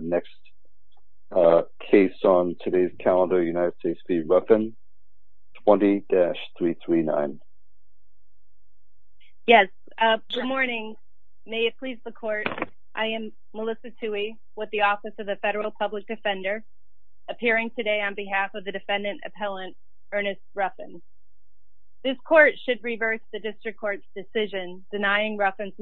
20-339. Yes, good morning. May it please the court, I am Melissa Tuohy with the Office of the Federal Public Defender, appearing today on behalf of the defendant appellant Ernest Ruffin. This court should reverse the district court's decision denying Ruffin's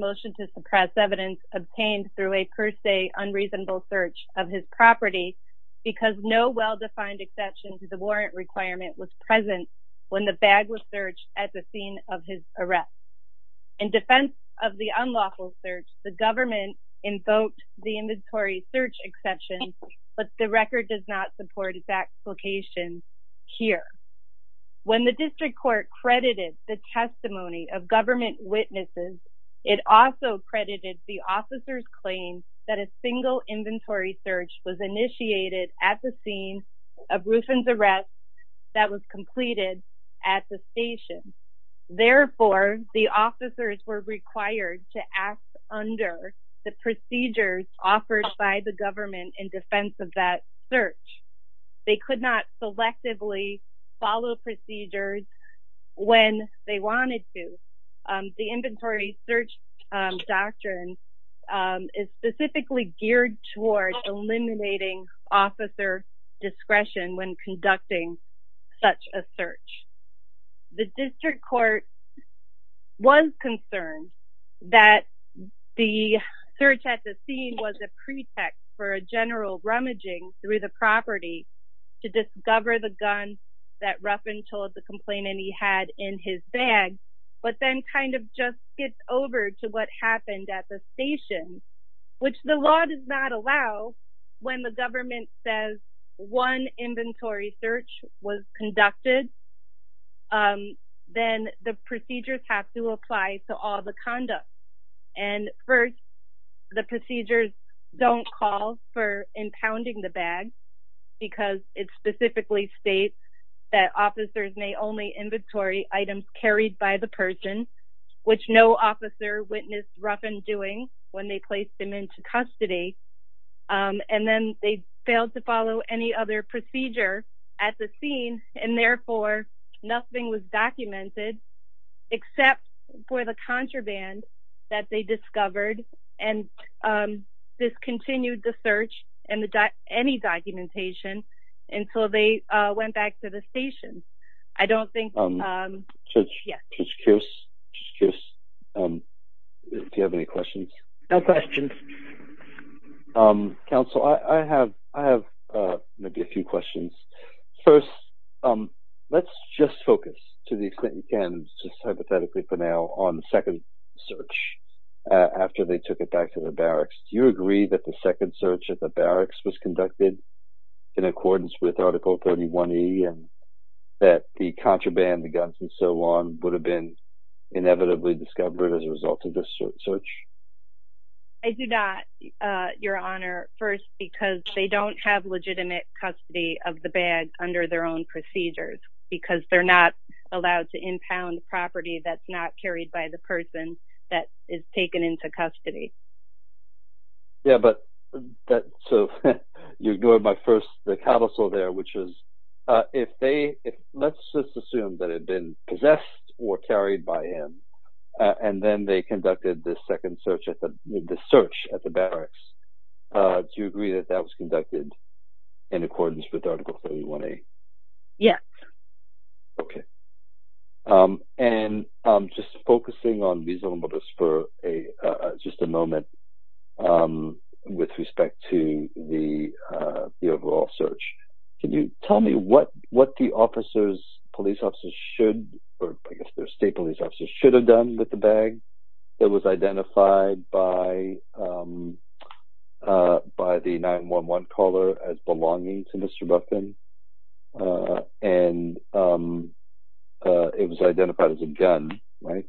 unreasonable search of his property because no well-defined exception to the warrant requirement was present when the bag was searched at the scene of his arrest. In defense of the unlawful search, the government invoked the inventory search exception, but the record does not support its application here. When the district court credited the testimony of government witnesses, it also credited the officer's claim that a single inventory search was initiated at the scene of Ruffin's arrest that was completed at the station. Therefore, the officers were required to act under the procedures offered by the government in defense of that search. They could not selectively follow procedures when they wanted to. The inventory search doctrine is specifically geared towards eliminating officer discretion when conducting such a search. The district court was concerned that the search at the scene was a pretext for a general rummaging through the property to discover the gun that Ruffin told the complainant he had in his bag, but then kind of just skips over to what happened at the station, which the law does not allow when the government says one inventory search was conducted, then the procedures have to apply to all the conduct. First, the procedures don't call for impounding the bag because it specifically states that officers may only inventory items carried by the person, which no officer witnessed Ruffin doing when they placed him into custody. Then they failed to follow any other procedure at the scene, and therefore, nothing was documented except for the contraband that they discovered and discontinued the search and any documentation until they went back to the station. I don't think... Judge Kearse, do you have any questions? No questions. Counsel, I have maybe a few questions. First, let's just focus, to the extent you can, just hypothetically for now, on the second search after they took it back to the barracks. Do you agree that the second search at the barracks was conducted in accordance with Article 31e and that the contraband, the guns, and so on would have been inevitably discovered as a result of this search? I do not, Your Honor. First, because they don't have legitimate custody of the bag under their own procedures because they're not allowed to impound the property that's not carried by the person that is taken into custody. Yeah, but that... So, you're going by first the catastrophe there, which is if they... Let's just assume that it had been possessed or they conducted the second search at the... The search at the barracks. Do you agree that that was conducted in accordance with Article 31e? Yes. Okay. And just focusing on these elements for a... Just a moment with respect to the overall search. Can you tell me what the officers, police officers should, or I guess the state police officers should have done with the bag that was identified by the 911 caller as belonging to Mr. Buffen? And it was identified as a gun, right?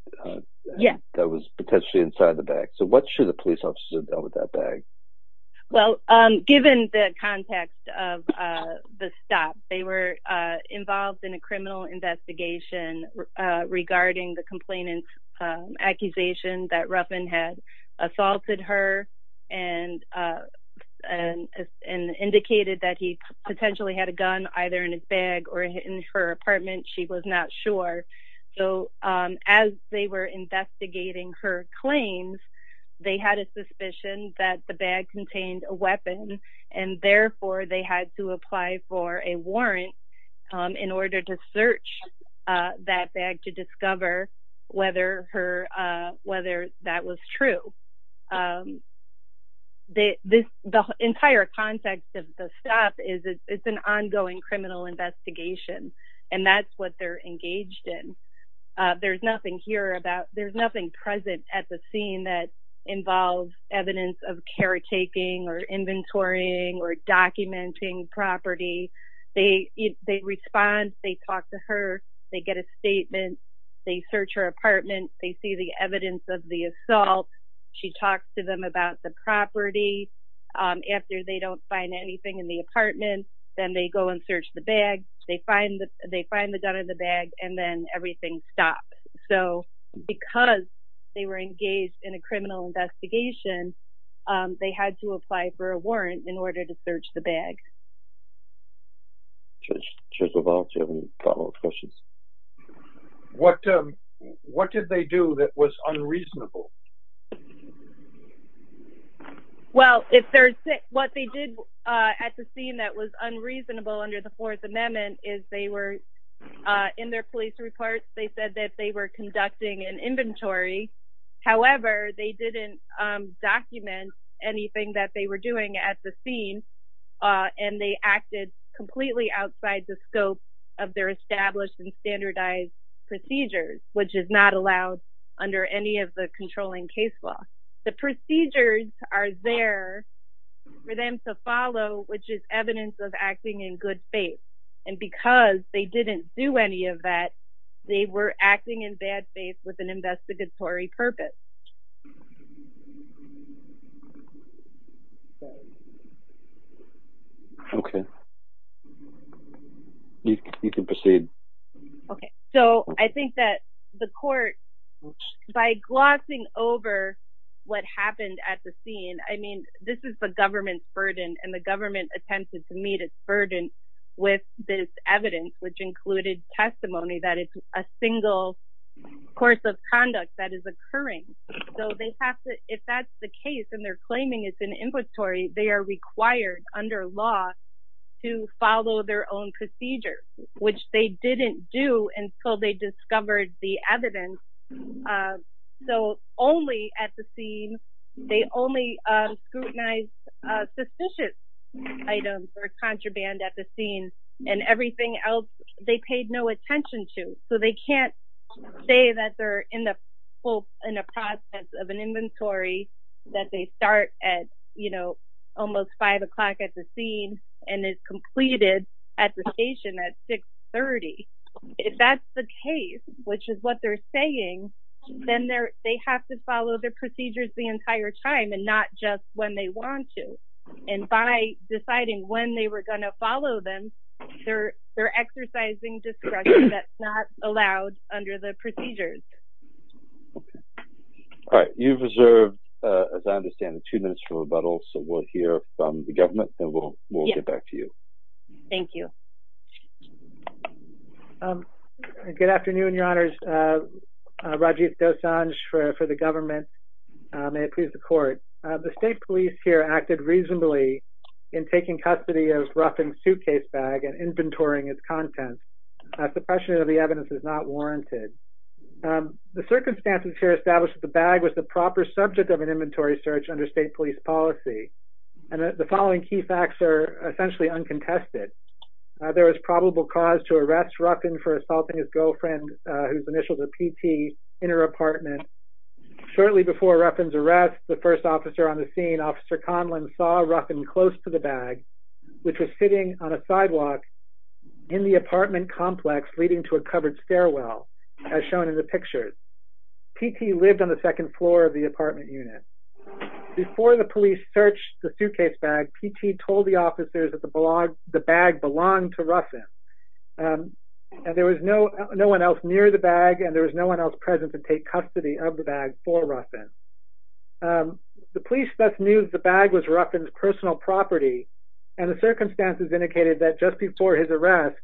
Yeah. That was potentially inside the bag. So, what should the police officers have done with that bag? Well, given the context of the stop, they were involved in a criminal investigation regarding the complainant's accusation that Ruffin had assaulted her and indicated that he potentially had a gun either in his bag or in her apartment. She was not sure. So, as they were investigating her claims, they had a suspicion that the bag contained a weapon, and therefore, they had to apply for a warrant in order to search that bag to discover whether that was true. The entire context of the stop is it's an ongoing criminal investigation, and that's what they're engaged in. There's nothing here about... There's nothing present at the scene that involves evidence of caretaking or inventorying or documenting property. They respond. They talk to her. They get a statement. They search her apartment. They see the evidence of the assault. She talks to them about the property. After they don't find anything in the apartment, then they go and search the bag. They find the gun in the bag, and then everything stops. So, because they were engaged in a criminal investigation, they had to apply for a warrant in order to search the bag. Judge LaValle, do you have any follow-up questions? What did they do that was unreasonable? Well, what they did at the scene that was unreasonable under the Fourth Amendment is they were, in their police reports, they said that they were conducting an inventory. However, they didn't document anything that they were doing at the scene, and they acted completely outside the scope of their established and standardized procedures, which is not allowed under any of the controlling case law. The procedures are there for them to follow, which is evidence of acting in good faith, and because they didn't do any of that, they were acting in bad faith with an investigatory purpose. Okay. You can proceed. Okay. So, I think that the court by glossing over what happened at the scene, I mean, this is the government's burden, and the government attempted to meet its burden with this evidence, which included testimony that it's a single course of conduct that is occurring. So, they have to, if that's the case, and they're claiming it's an inventory, they are required under law to follow their own procedures, which they didn't do until they discovered the evidence. So, only at the scene, they only scrutinized suspicious items or contraband at the scene, and everything else they paid no attention to. So, they can't say that they're in the process of an inventory that they start at, almost 5 o'clock at the scene, and is completed at the station at 6.30. If that's the case, which is what they're saying, then they have to follow their procedures the entire time, and not just when they want to. And by deciding when they were going to follow them, they're exercising discretion that's not allowed under the procedures. Okay. All right. You've reserved, as I understand it, two minutes for rebuttal. So, we'll hear from the government, and we'll get back to you. Thank you. Good afternoon, Your Honors. Rajiv Dosanjh for the government. May it please the Court. The state police here acted reasonably in taking custody of Ruffin's suitcase bag and inventorying its contents. Suppression of the evidence is not warranted. The circumstances here establish that the bag was the proper subject of an inventory search under state police policy. And the following key facts are essentially uncontested. There was probable cause to arrest Ruffin for assaulting his girlfriend, whose initials are PT, in her apartment. Shortly before Ruffin's arrest, the first officer on the scene, Officer Conlin, saw Ruffin close to the bag, which was sitting on a sidewalk in the apartment complex leading to a covered stairwell, as shown in the pictures. PT lived on the second floor of the apartment unit. Before the police searched the suitcase bag, PT told the officers that the bag belonged to Ruffin. And there was no one else near the bag, and there was no one else present to take custody of the personal property. And the circumstances indicated that just before his arrest,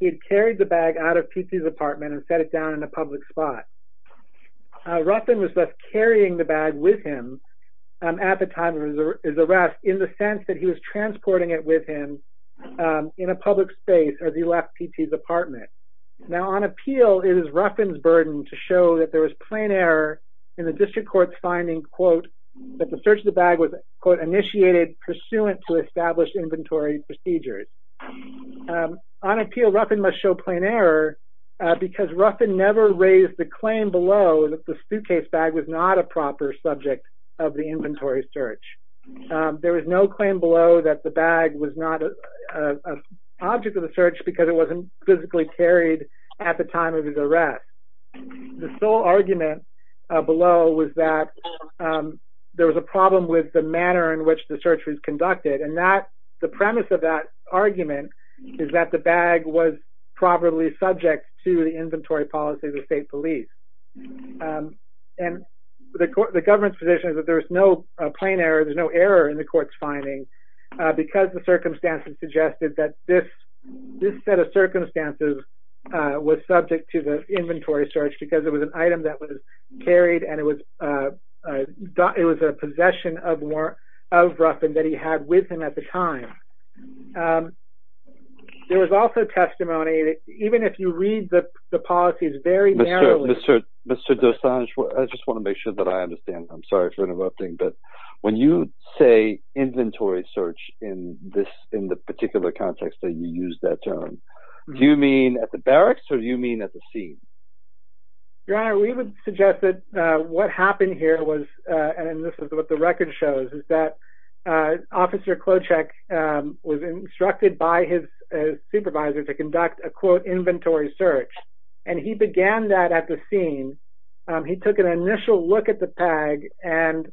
he had carried the bag out of PT's apartment and set it down in a public spot. Ruffin was left carrying the bag with him at the time of his arrest in the sense that he was transporting it with him in a public space as he left PT's apartment. Now, on appeal, it is Ruffin's burden to show that there was plain error in the district court's finding, quote, that the search of the bag was, quote, initiated pursuant to established inventory procedures. On appeal, Ruffin must show plain error because Ruffin never raised the claim below that the suitcase bag was not a proper subject of the inventory search. There was no claim below that the bag was not an object of the search because it wasn't physically carried at the time of his arrest. The sole argument below was that there was a problem with the manner in which the search was conducted. And the premise of that argument is that the bag was probably subject to the inventory policy of the state police. And the government's position is that there was no plain error, there's no error in the court's finding because the circumstances suggested that this set of circumstances was subject to the inventory search because it was an item that was carried and it was a possession of Ruffin that he had with him at the time. There was also testimony, even if you read the policies very narrowly. Mr. Dosange, I just want to make sure that I understand. I'm sorry for interrupting, but when you say inventory search in the particular context that you use that term, do you mean at the barracks or do you mean at the scene? Your Honor, we would suggest that what happened here was, and this is what the record shows, is that Officer Klocheck was instructed by his supervisor to conduct a quote inventory search. And he began that at the scene. He took an initial look at the bag and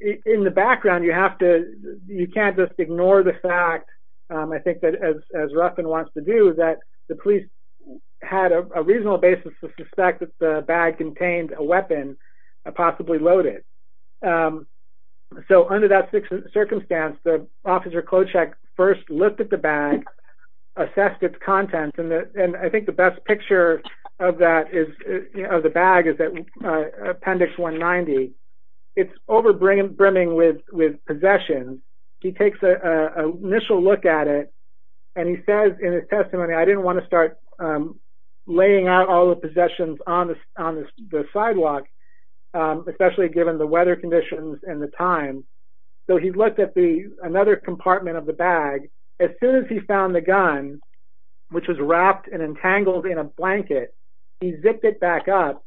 in the background, you can't just ignore the fact, I think as Ruffin wants to do, that the police had a reasonable basis to suspect that the bag contained a weapon, possibly loaded. So under that circumstance, Officer Klocheck first looked at the bag, assessed its contents, and I think the best picture of the bag is Appendix 190. It's over brimming with possessions. He takes an initial look at it and he says in his testimony, I didn't want to start laying out all the possessions on the sidewalk, especially given the weather conditions and the time. So he looked at another compartment of the bag. As soon as he found the gun, which was wrapped and entangled in a blanket, he zipped it back up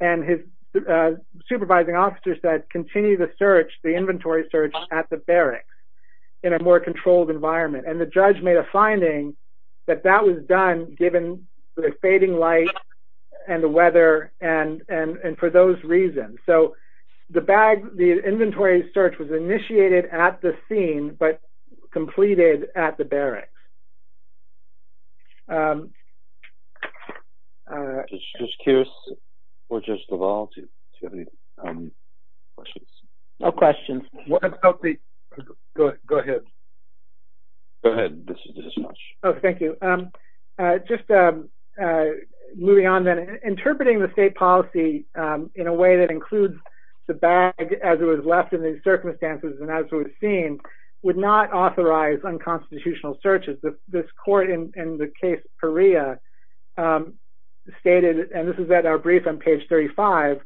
and his supervising officer said continue the search, the inventory search, at the barracks in a more controlled environment. And the judge made a finding that that was done given the fading light and the weather and for those reasons. So the inventory search was initiated at the scene but completed at the barracks. Um, uh, Judge Kearse or Judge LaValle, do you have any questions? No questions. Go ahead. Go ahead. Oh, thank you. Um, uh, just, um, uh, moving on then. Interpreting the state policy, um, in a way that includes the bag as it was left in these circumstances and as we've seen would not authorize unconstitutional searches. This court in the case Perea, um, stated, and this is at our brief on page 35,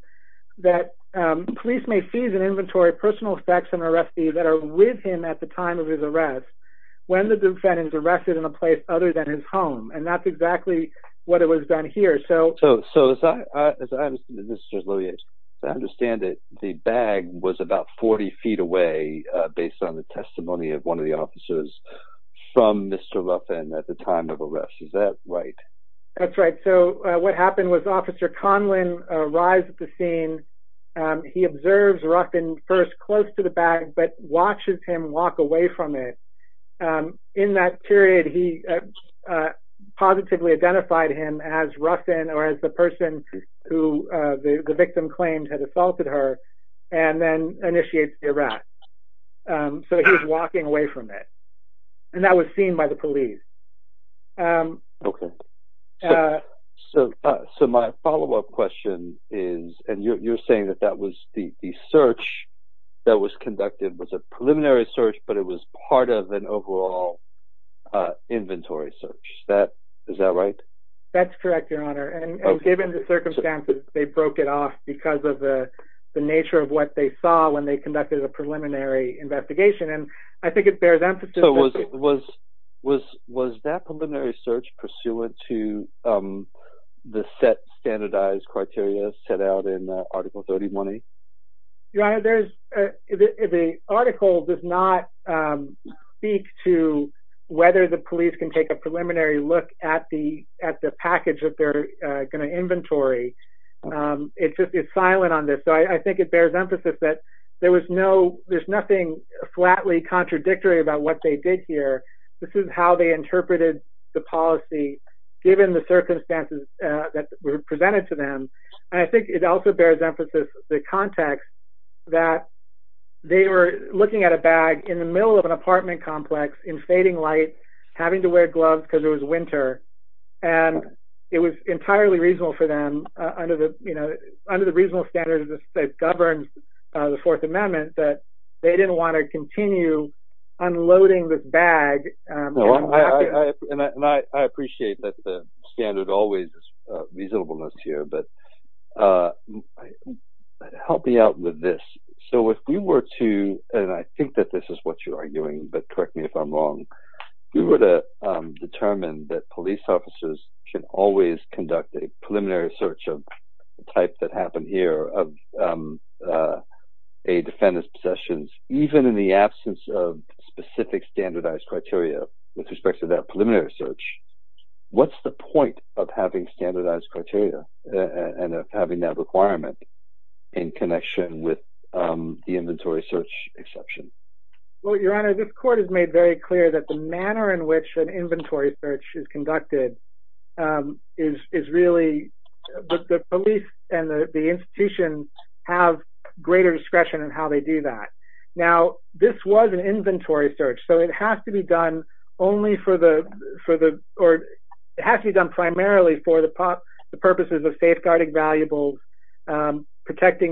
that, um, police may seize an inventory, personal effects and arrestees that are with him at the time of his arrest when the defendant is arrested in a place other than his home. And that's exactly what it was done here. So, so, so as I, as I understand it, the bag was about 40 feet away, uh, based on the testimony of one of the officers from Mr. Ruffin at the time of arrest. Is that right? That's right. So, uh, what happened was Officer Conlin arrives at the scene. Um, he observes Ruffin first close to the bag, but watches him walk away from it. Um, in that period, he, uh, positively identified him as Ruffin or as person who, uh, the victim claimed had assaulted her and then initiates the arrest. Um, so he was walking away from it and that was seen by the police. Um, okay. Uh, so, uh, so my follow-up question is, and you're, you're saying that that was the, the search that was conducted was a preliminary search, but it was part of an overall, uh, inventory search. That, is that right? That's correct, your honor. And given the circumstances, they broke it off because of the, the nature of what they saw when they conducted a preliminary investigation. And I think it bears emphasis. So was, was, was, was that preliminary search pursuant to, um, the set standardized criteria set out in the article 30-20? Your honor, there's, uh, the article does not, um, speak to whether the police can take a preliminary look at the, at the package that they're going to inventory. Um, it's just, it's silent on this. So I think it bears emphasis that there was no, there's nothing flatly contradictory about what they did here. This is how they interpreted the policy given the circumstances that were presented to them. And I think it also bears emphasis, the context that they were looking at a bag in the middle of an apartment complex in fading light, having to wear gloves because it was winter. And it was entirely reasonable for them, uh, under the, you know, under the reasonable standards that governs, uh, the fourth amendment that they didn't want to continue unloading this bag. Um, and I, and I, and I, I appreciate that the standard always, uh, reasonableness here, but, uh, help me out with this. So if we were to, and I think that this is what you're arguing, but correct me if I'm wrong, if we were to, um, determine that police officers can always conduct a preliminary search of type that happened here of, um, uh, a defendant's possessions, even in the absence of specific standardized criteria with respect to that preliminary search, what's the point of having standardized criteria and of having that requirement in connection with, um, the inventory search exception? Well, your honor, this court has made very clear that the manner in which an inventory search is conducted, um, is, is really the police and the institutions have greater discretion in how they do that. Now, this was an inventory search, so it has to be done only for the, for the, or it has to be done primarily for the purposes of safeguarding valuables, um, potential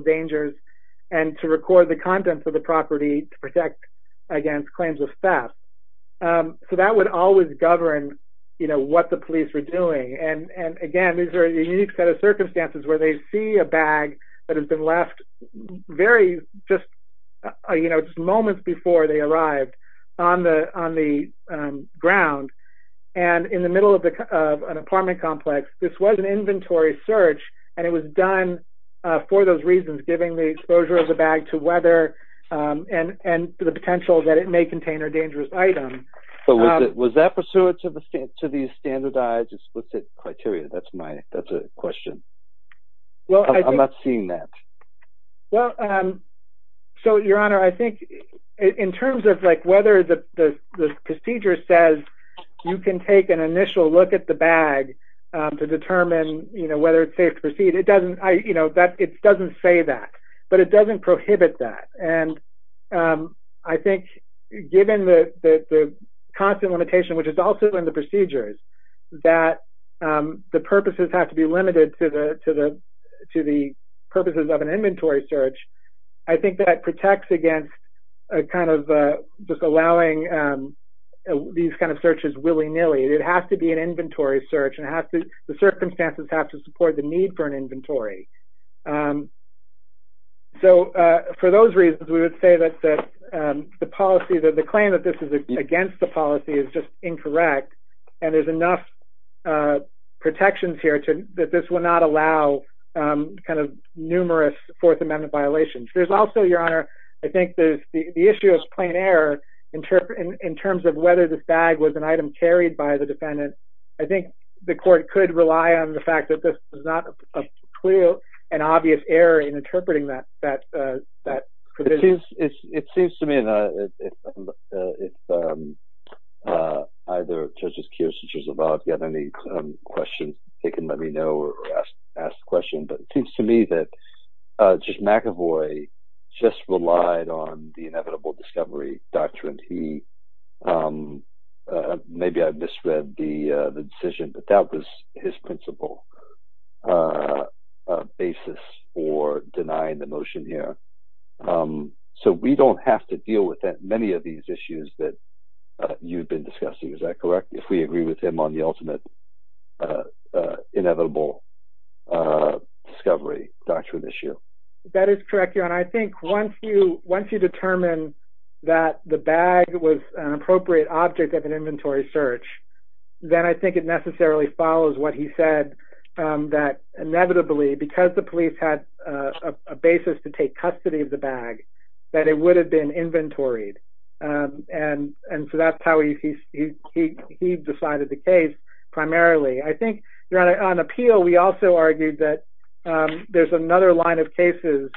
dangers and to record the contents of the property to protect against claims of theft. Um, so that would always govern, you know, what the police were doing. And, and again, these are a unique set of circumstances where they see a bag that has been left very just, you know, just moments before they arrived on the, on the, um, ground and in the middle of the, of an apartment complex. This was an inventory search and it was done, uh, for those reasons, giving the exposure of the bag to weather, um, and, and the potential that it may contain a dangerous item. So was it, was that pursuant to the, to the standardized explicit criteria? That's my, that's a question. Well, I'm not seeing that. Well, um, so your honor, I think in terms of like the procedure says you can take an initial look at the bag, um, to determine, you know, whether it's safe to proceed. It doesn't, I, you know, that it doesn't say that, but it doesn't prohibit that. And, um, I think given the, the, the constant limitation, which is also in the procedures that, um, the purposes have to be limited to the, to the, to the purposes of an inventory search, I think that protects against a kind of, uh, just allowing, um, these kinds of searches willy nilly. It has to be an inventory search and it has to, the circumstances have to support the need for an inventory. Um, so, uh, for those reasons, we would say that, that, um, the policy that the claim that this is against the policy is just incorrect. And there's enough, uh, protections here to, that this will not allow, um, kind of numerous fourth amendment violations. There's also your honor, I think there's the, the issue is plain error in terms of whether this bag was an item carried by the defendant. I think the court could rely on the fact that this is not a clear and obvious error in interpreting that, that, uh, that. It seems to me that, uh, if, uh, if, um, uh, either just as curious, which is about if you have any questions, they can let me know or ask, ask the question, but it seems to me that, uh, just McEvoy just relied on the inevitable discovery doctrine. He, um, uh, maybe I misread the, uh, the decision, but that was his principle, uh, uh, basis for denying the motion here. Um, so we don't have to deal with that. Many of these issues that, uh, you've been discussing, is that correct? If we agree with him on the ultimate, uh, uh, inevitable, uh, discovery doctrine issue. That is correct, your honor. I think once you, once you determine that the bag was an appropriate object of an inventory search, then I think it necessarily follows what he said, um, that inevitably because the police had, uh, a basis to take custody of the bag, that it would have been inventoried. Um, and, and so that's how he, he, he, he decided the case primarily. I think, your honor, on appeal, we also argued that, um, there's another line of cases,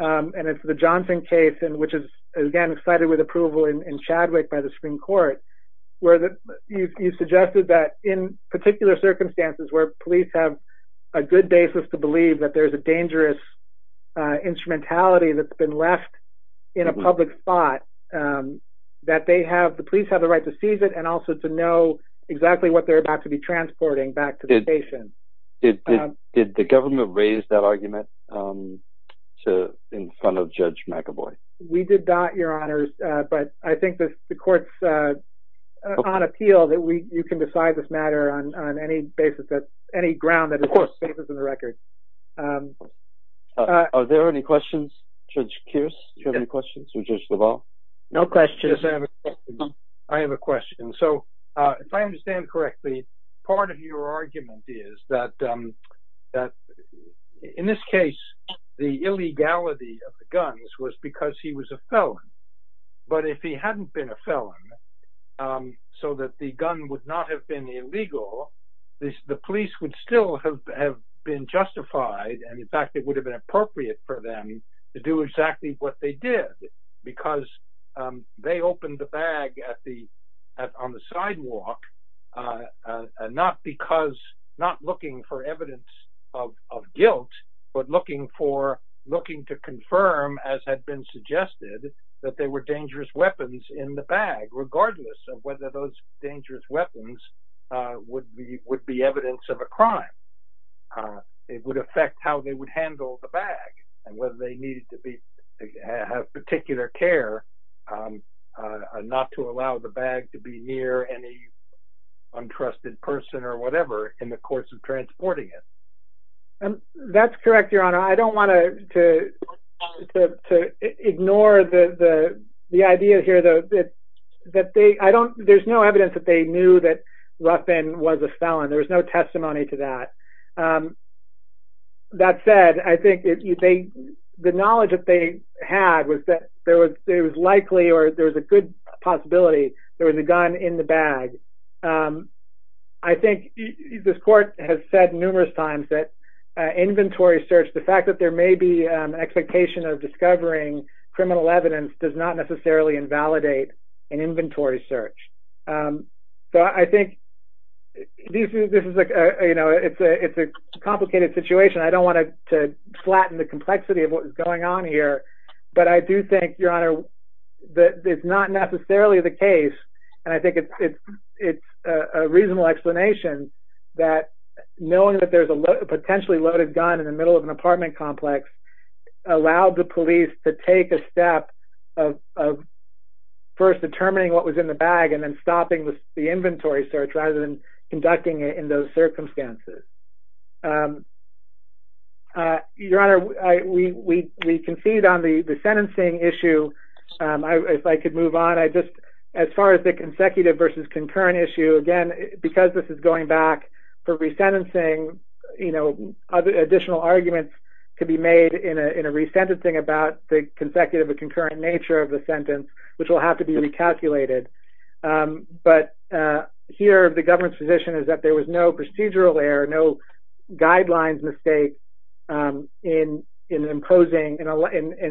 um, and it's the Johnson case and which is again, excited with approval in, in Chadwick by the Supreme Court, where the, you, you suggested that in particular circumstances where police have a good basis to believe that there's a dangerous, uh, instrumentality that's been left in a public spot, um, that they have, the police have the right to seize it and also to know exactly what they're about to be transporting back to the station. Did, did, did the government raise that argument, um, to, in front of Judge McAvoy? We did not, your honors, uh, but I think the court's, uh, on appeal that we, you can decide this matter on, on any basis that any ground that, of course, basis in the record. Um, uh, are there any questions? Judge Kearse, do you have any questions? No questions. I have a question. So, uh, if I understand correctly, part of your argument is that, um, that in this case, the illegality of the guns was because he was a felon, but if he hadn't been a felon, um, so that the gun would not have been illegal, this, the police would still have, have been justified. And in fact, it would have been appropriate for them to do exactly what they did because, um, they opened the bag at the, at, on the sidewalk, uh, uh, not because, not looking for evidence of, of guilt, but looking for, looking to confirm as had been suggested that they were dangerous weapons in the bag, regardless of whether those dangerous weapons, uh, would be, would be evidence of a crime. Uh, it would affect how they would handle the bag and whether they needed to be, have particular care, um, uh, not to allow the bag to be near any untrusted person or whatever in the course of transporting it. Um, that's correct, Your Honor. I don't want to, to, to, to ignore the, the, the idea here, though, that, that they, I don't, there's no evidence that they knew that Ruffin was a felon. There was no testimony to that. Um, that said, I think they, the knowledge that they had was that there was, it was likely, or there was a good possibility there was a gun in the bag. Um, I think this court has said numerous times that, uh, inventory search, the fact that there may be, um, expectation of discovering criminal evidence does not necessarily invalidate an inventory search. Um, so I think this is, this is, uh, you know, it's a, it's a complicated situation. I don't want to, to flatten the complexity of what was going on here, but I do think, Your Honor, that it's not necessarily the case. And I think it's, it's, uh, a reasonable explanation that knowing that there's a potentially loaded gun in the middle of an apartment complex allowed the police to take a step of, of first determining what was in the bag and then stopping the inventory search rather than conducting it in those circumstances. Um, uh, Your Honor, I, we, we, we concede on the, the sentencing issue. Um, I, if I could move on, I just, as far as the consecutive versus concurrent issue, again, because this is going back for resentencing, you know, other additional arguments could be made in a, in a resentencing about the consecutive or concurrent nature of the sentence, which will have to be recalculated. Um, but, uh, here the government's position is that there was no procedural error, no guidelines mistake, um, in, in imposing, in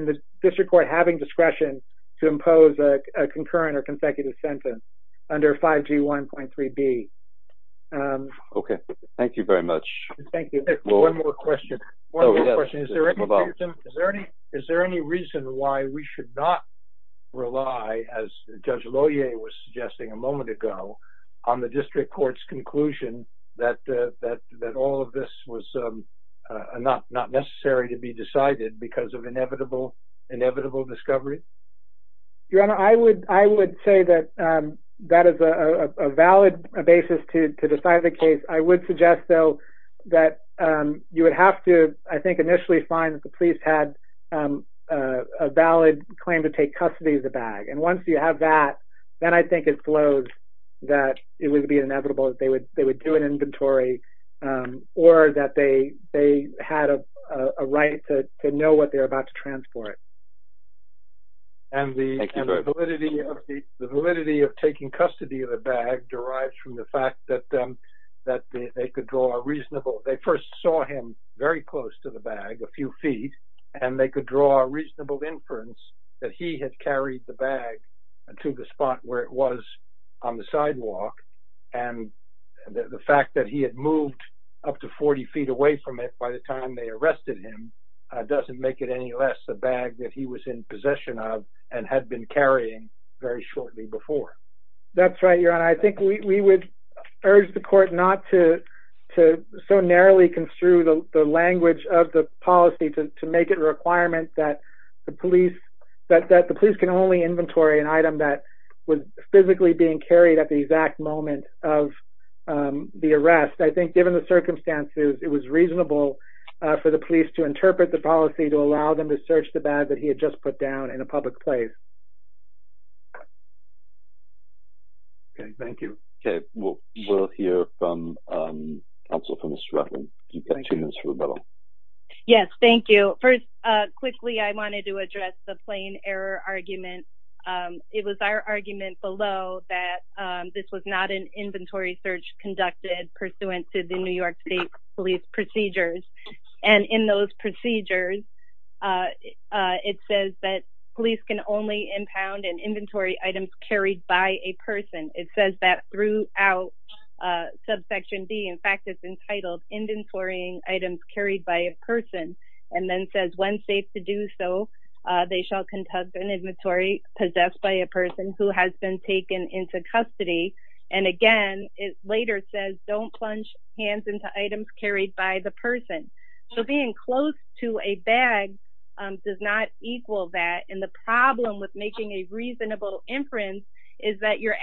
the district court having discretion to impose a concurrent or consecutive sentence under 5G1.3B. Um, okay. Thank you very much. Thank you. One more question. Is there any reason why we should not rely as Judge Lohier was suggesting a moment ago on the district court's conclusion that, uh, that, that all of this was, um, uh, not, not necessary to be decided because of inevitable, inevitable discovery? Your Honor, I would, I would say that, um, that is a, a, a valid basis to, to decide the case. I would suggest though that, um, you would have to, I think initially find that the police had, um, uh, a valid claim to take custody of the bag. And once you have that, then I think it flows that it would be inevitable that they would, they would do an inventory, um, or that they, they had a, a, a right to, to know what they're about to transport. And the validity of the validity of taking custody of the bag derives from the fact that, um, that they could draw a reasonable, they first saw him very close to the bag, a few feet, and they could draw a reasonable inference that he had carried the bag to the spot where it was on the sidewalk. And the fact that he had moved up to 40 feet away from it by the time they arrested him, uh, doesn't make it any less the bag that he was in possession of and had been carrying very shortly before. That's right, Your Honor. I think we, we would urge the court not to, to so narrowly construe the language of policy to, to make it a requirement that the police, that, that the police can only inventory an item that was physically being carried at the exact moment of, um, the arrest. I think given the circumstances, it was reasonable, uh, for the police to interpret the policy to allow them to search the bag that he had just put down in a public place. Okay. Thank you. Okay. We'll, yes, thank you. First, uh, quickly, I wanted to address the plain error argument. Um, it was our argument below that, um, this was not an inventory search conducted pursuant to the New York State police procedures. And in those procedures, uh, uh, it says that police can only impound an inventory items carried by a person. It says that throughout, uh, subsection B, in fact, it's entitled inventorying items carried by a person, and then says when safe to do so, uh, they shall conduct an inventory possessed by a person who has been taken into custody. And again, it later says, don't plunge hands into items carried by the person. So being close to a bag, um, does not equal that. And the problem with making a reasonable inference is that you're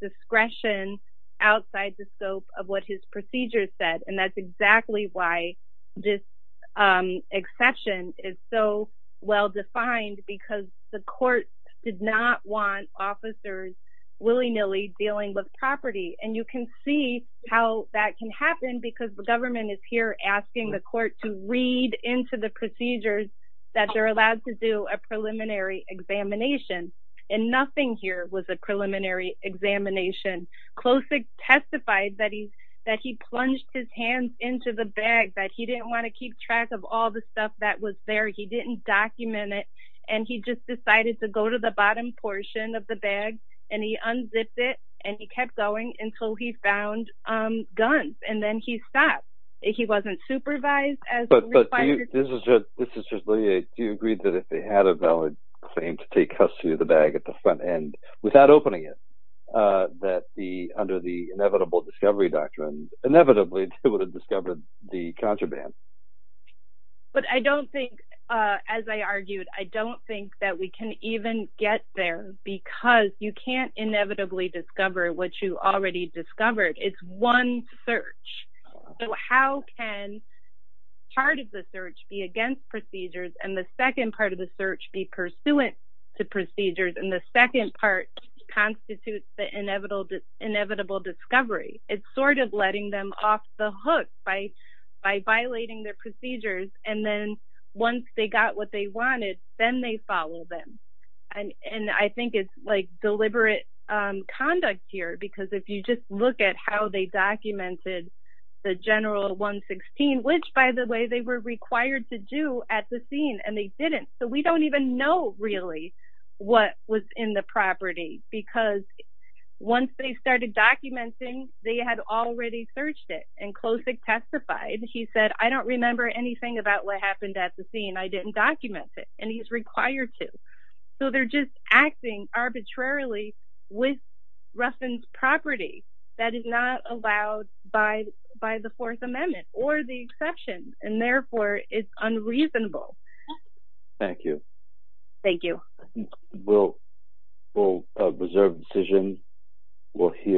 discretion outside the scope of what his procedures said. And that's exactly why this, um, exception is so well defined because the court did not want officers willy nilly dealing with property. And you can see how that can happen because the government is here asking the court to read into the procedures that they're allowed to do a preliminary examination. And nothing here was a preliminary examination. Close it testified that he that he plunged his hands into the bag that he didn't want to keep track of all the stuff that was there. He didn't document it, and he just decided to go to the bottom portion of the bag, and he unzipped it, and he kept going until he found, um, guns. And then he stopped. He wasn't supervised as this is just this is just really a do you agree that if they had a valid claim to take custody of the bag at the front end without opening it, uh, that the under the inevitable discovery doctrine inevitably would have discovered the contraband. But I don't think, uh, as I argued, I don't think that we can even get there because you can't inevitably discover what you already discovered. It's one search. So how can part of the search be against procedures and the second part of the search be pursuant to procedures? And the second part constitutes the inevitable inevitable discovery. It's sort of letting them off the hook by by violating their procedures. And then once they got what they wanted, then they follow them. And and I think it's like conduct here, because if you just look at how they documented the general 116, which, by the way, they were required to do at the scene, and they didn't. So we don't even know really what was in the property, because once they started documenting, they had already searched it. And Klosik testified. He said, I don't remember anything about what happened at the scene. I didn't document it, and he's required to. So they're just acting arbitrarily with Ruffin's property that is not allowed by by the Fourth Amendment or the exception, and therefore it's unreasonable. Thank you. Thank you. We'll reserve decision. We'll hear.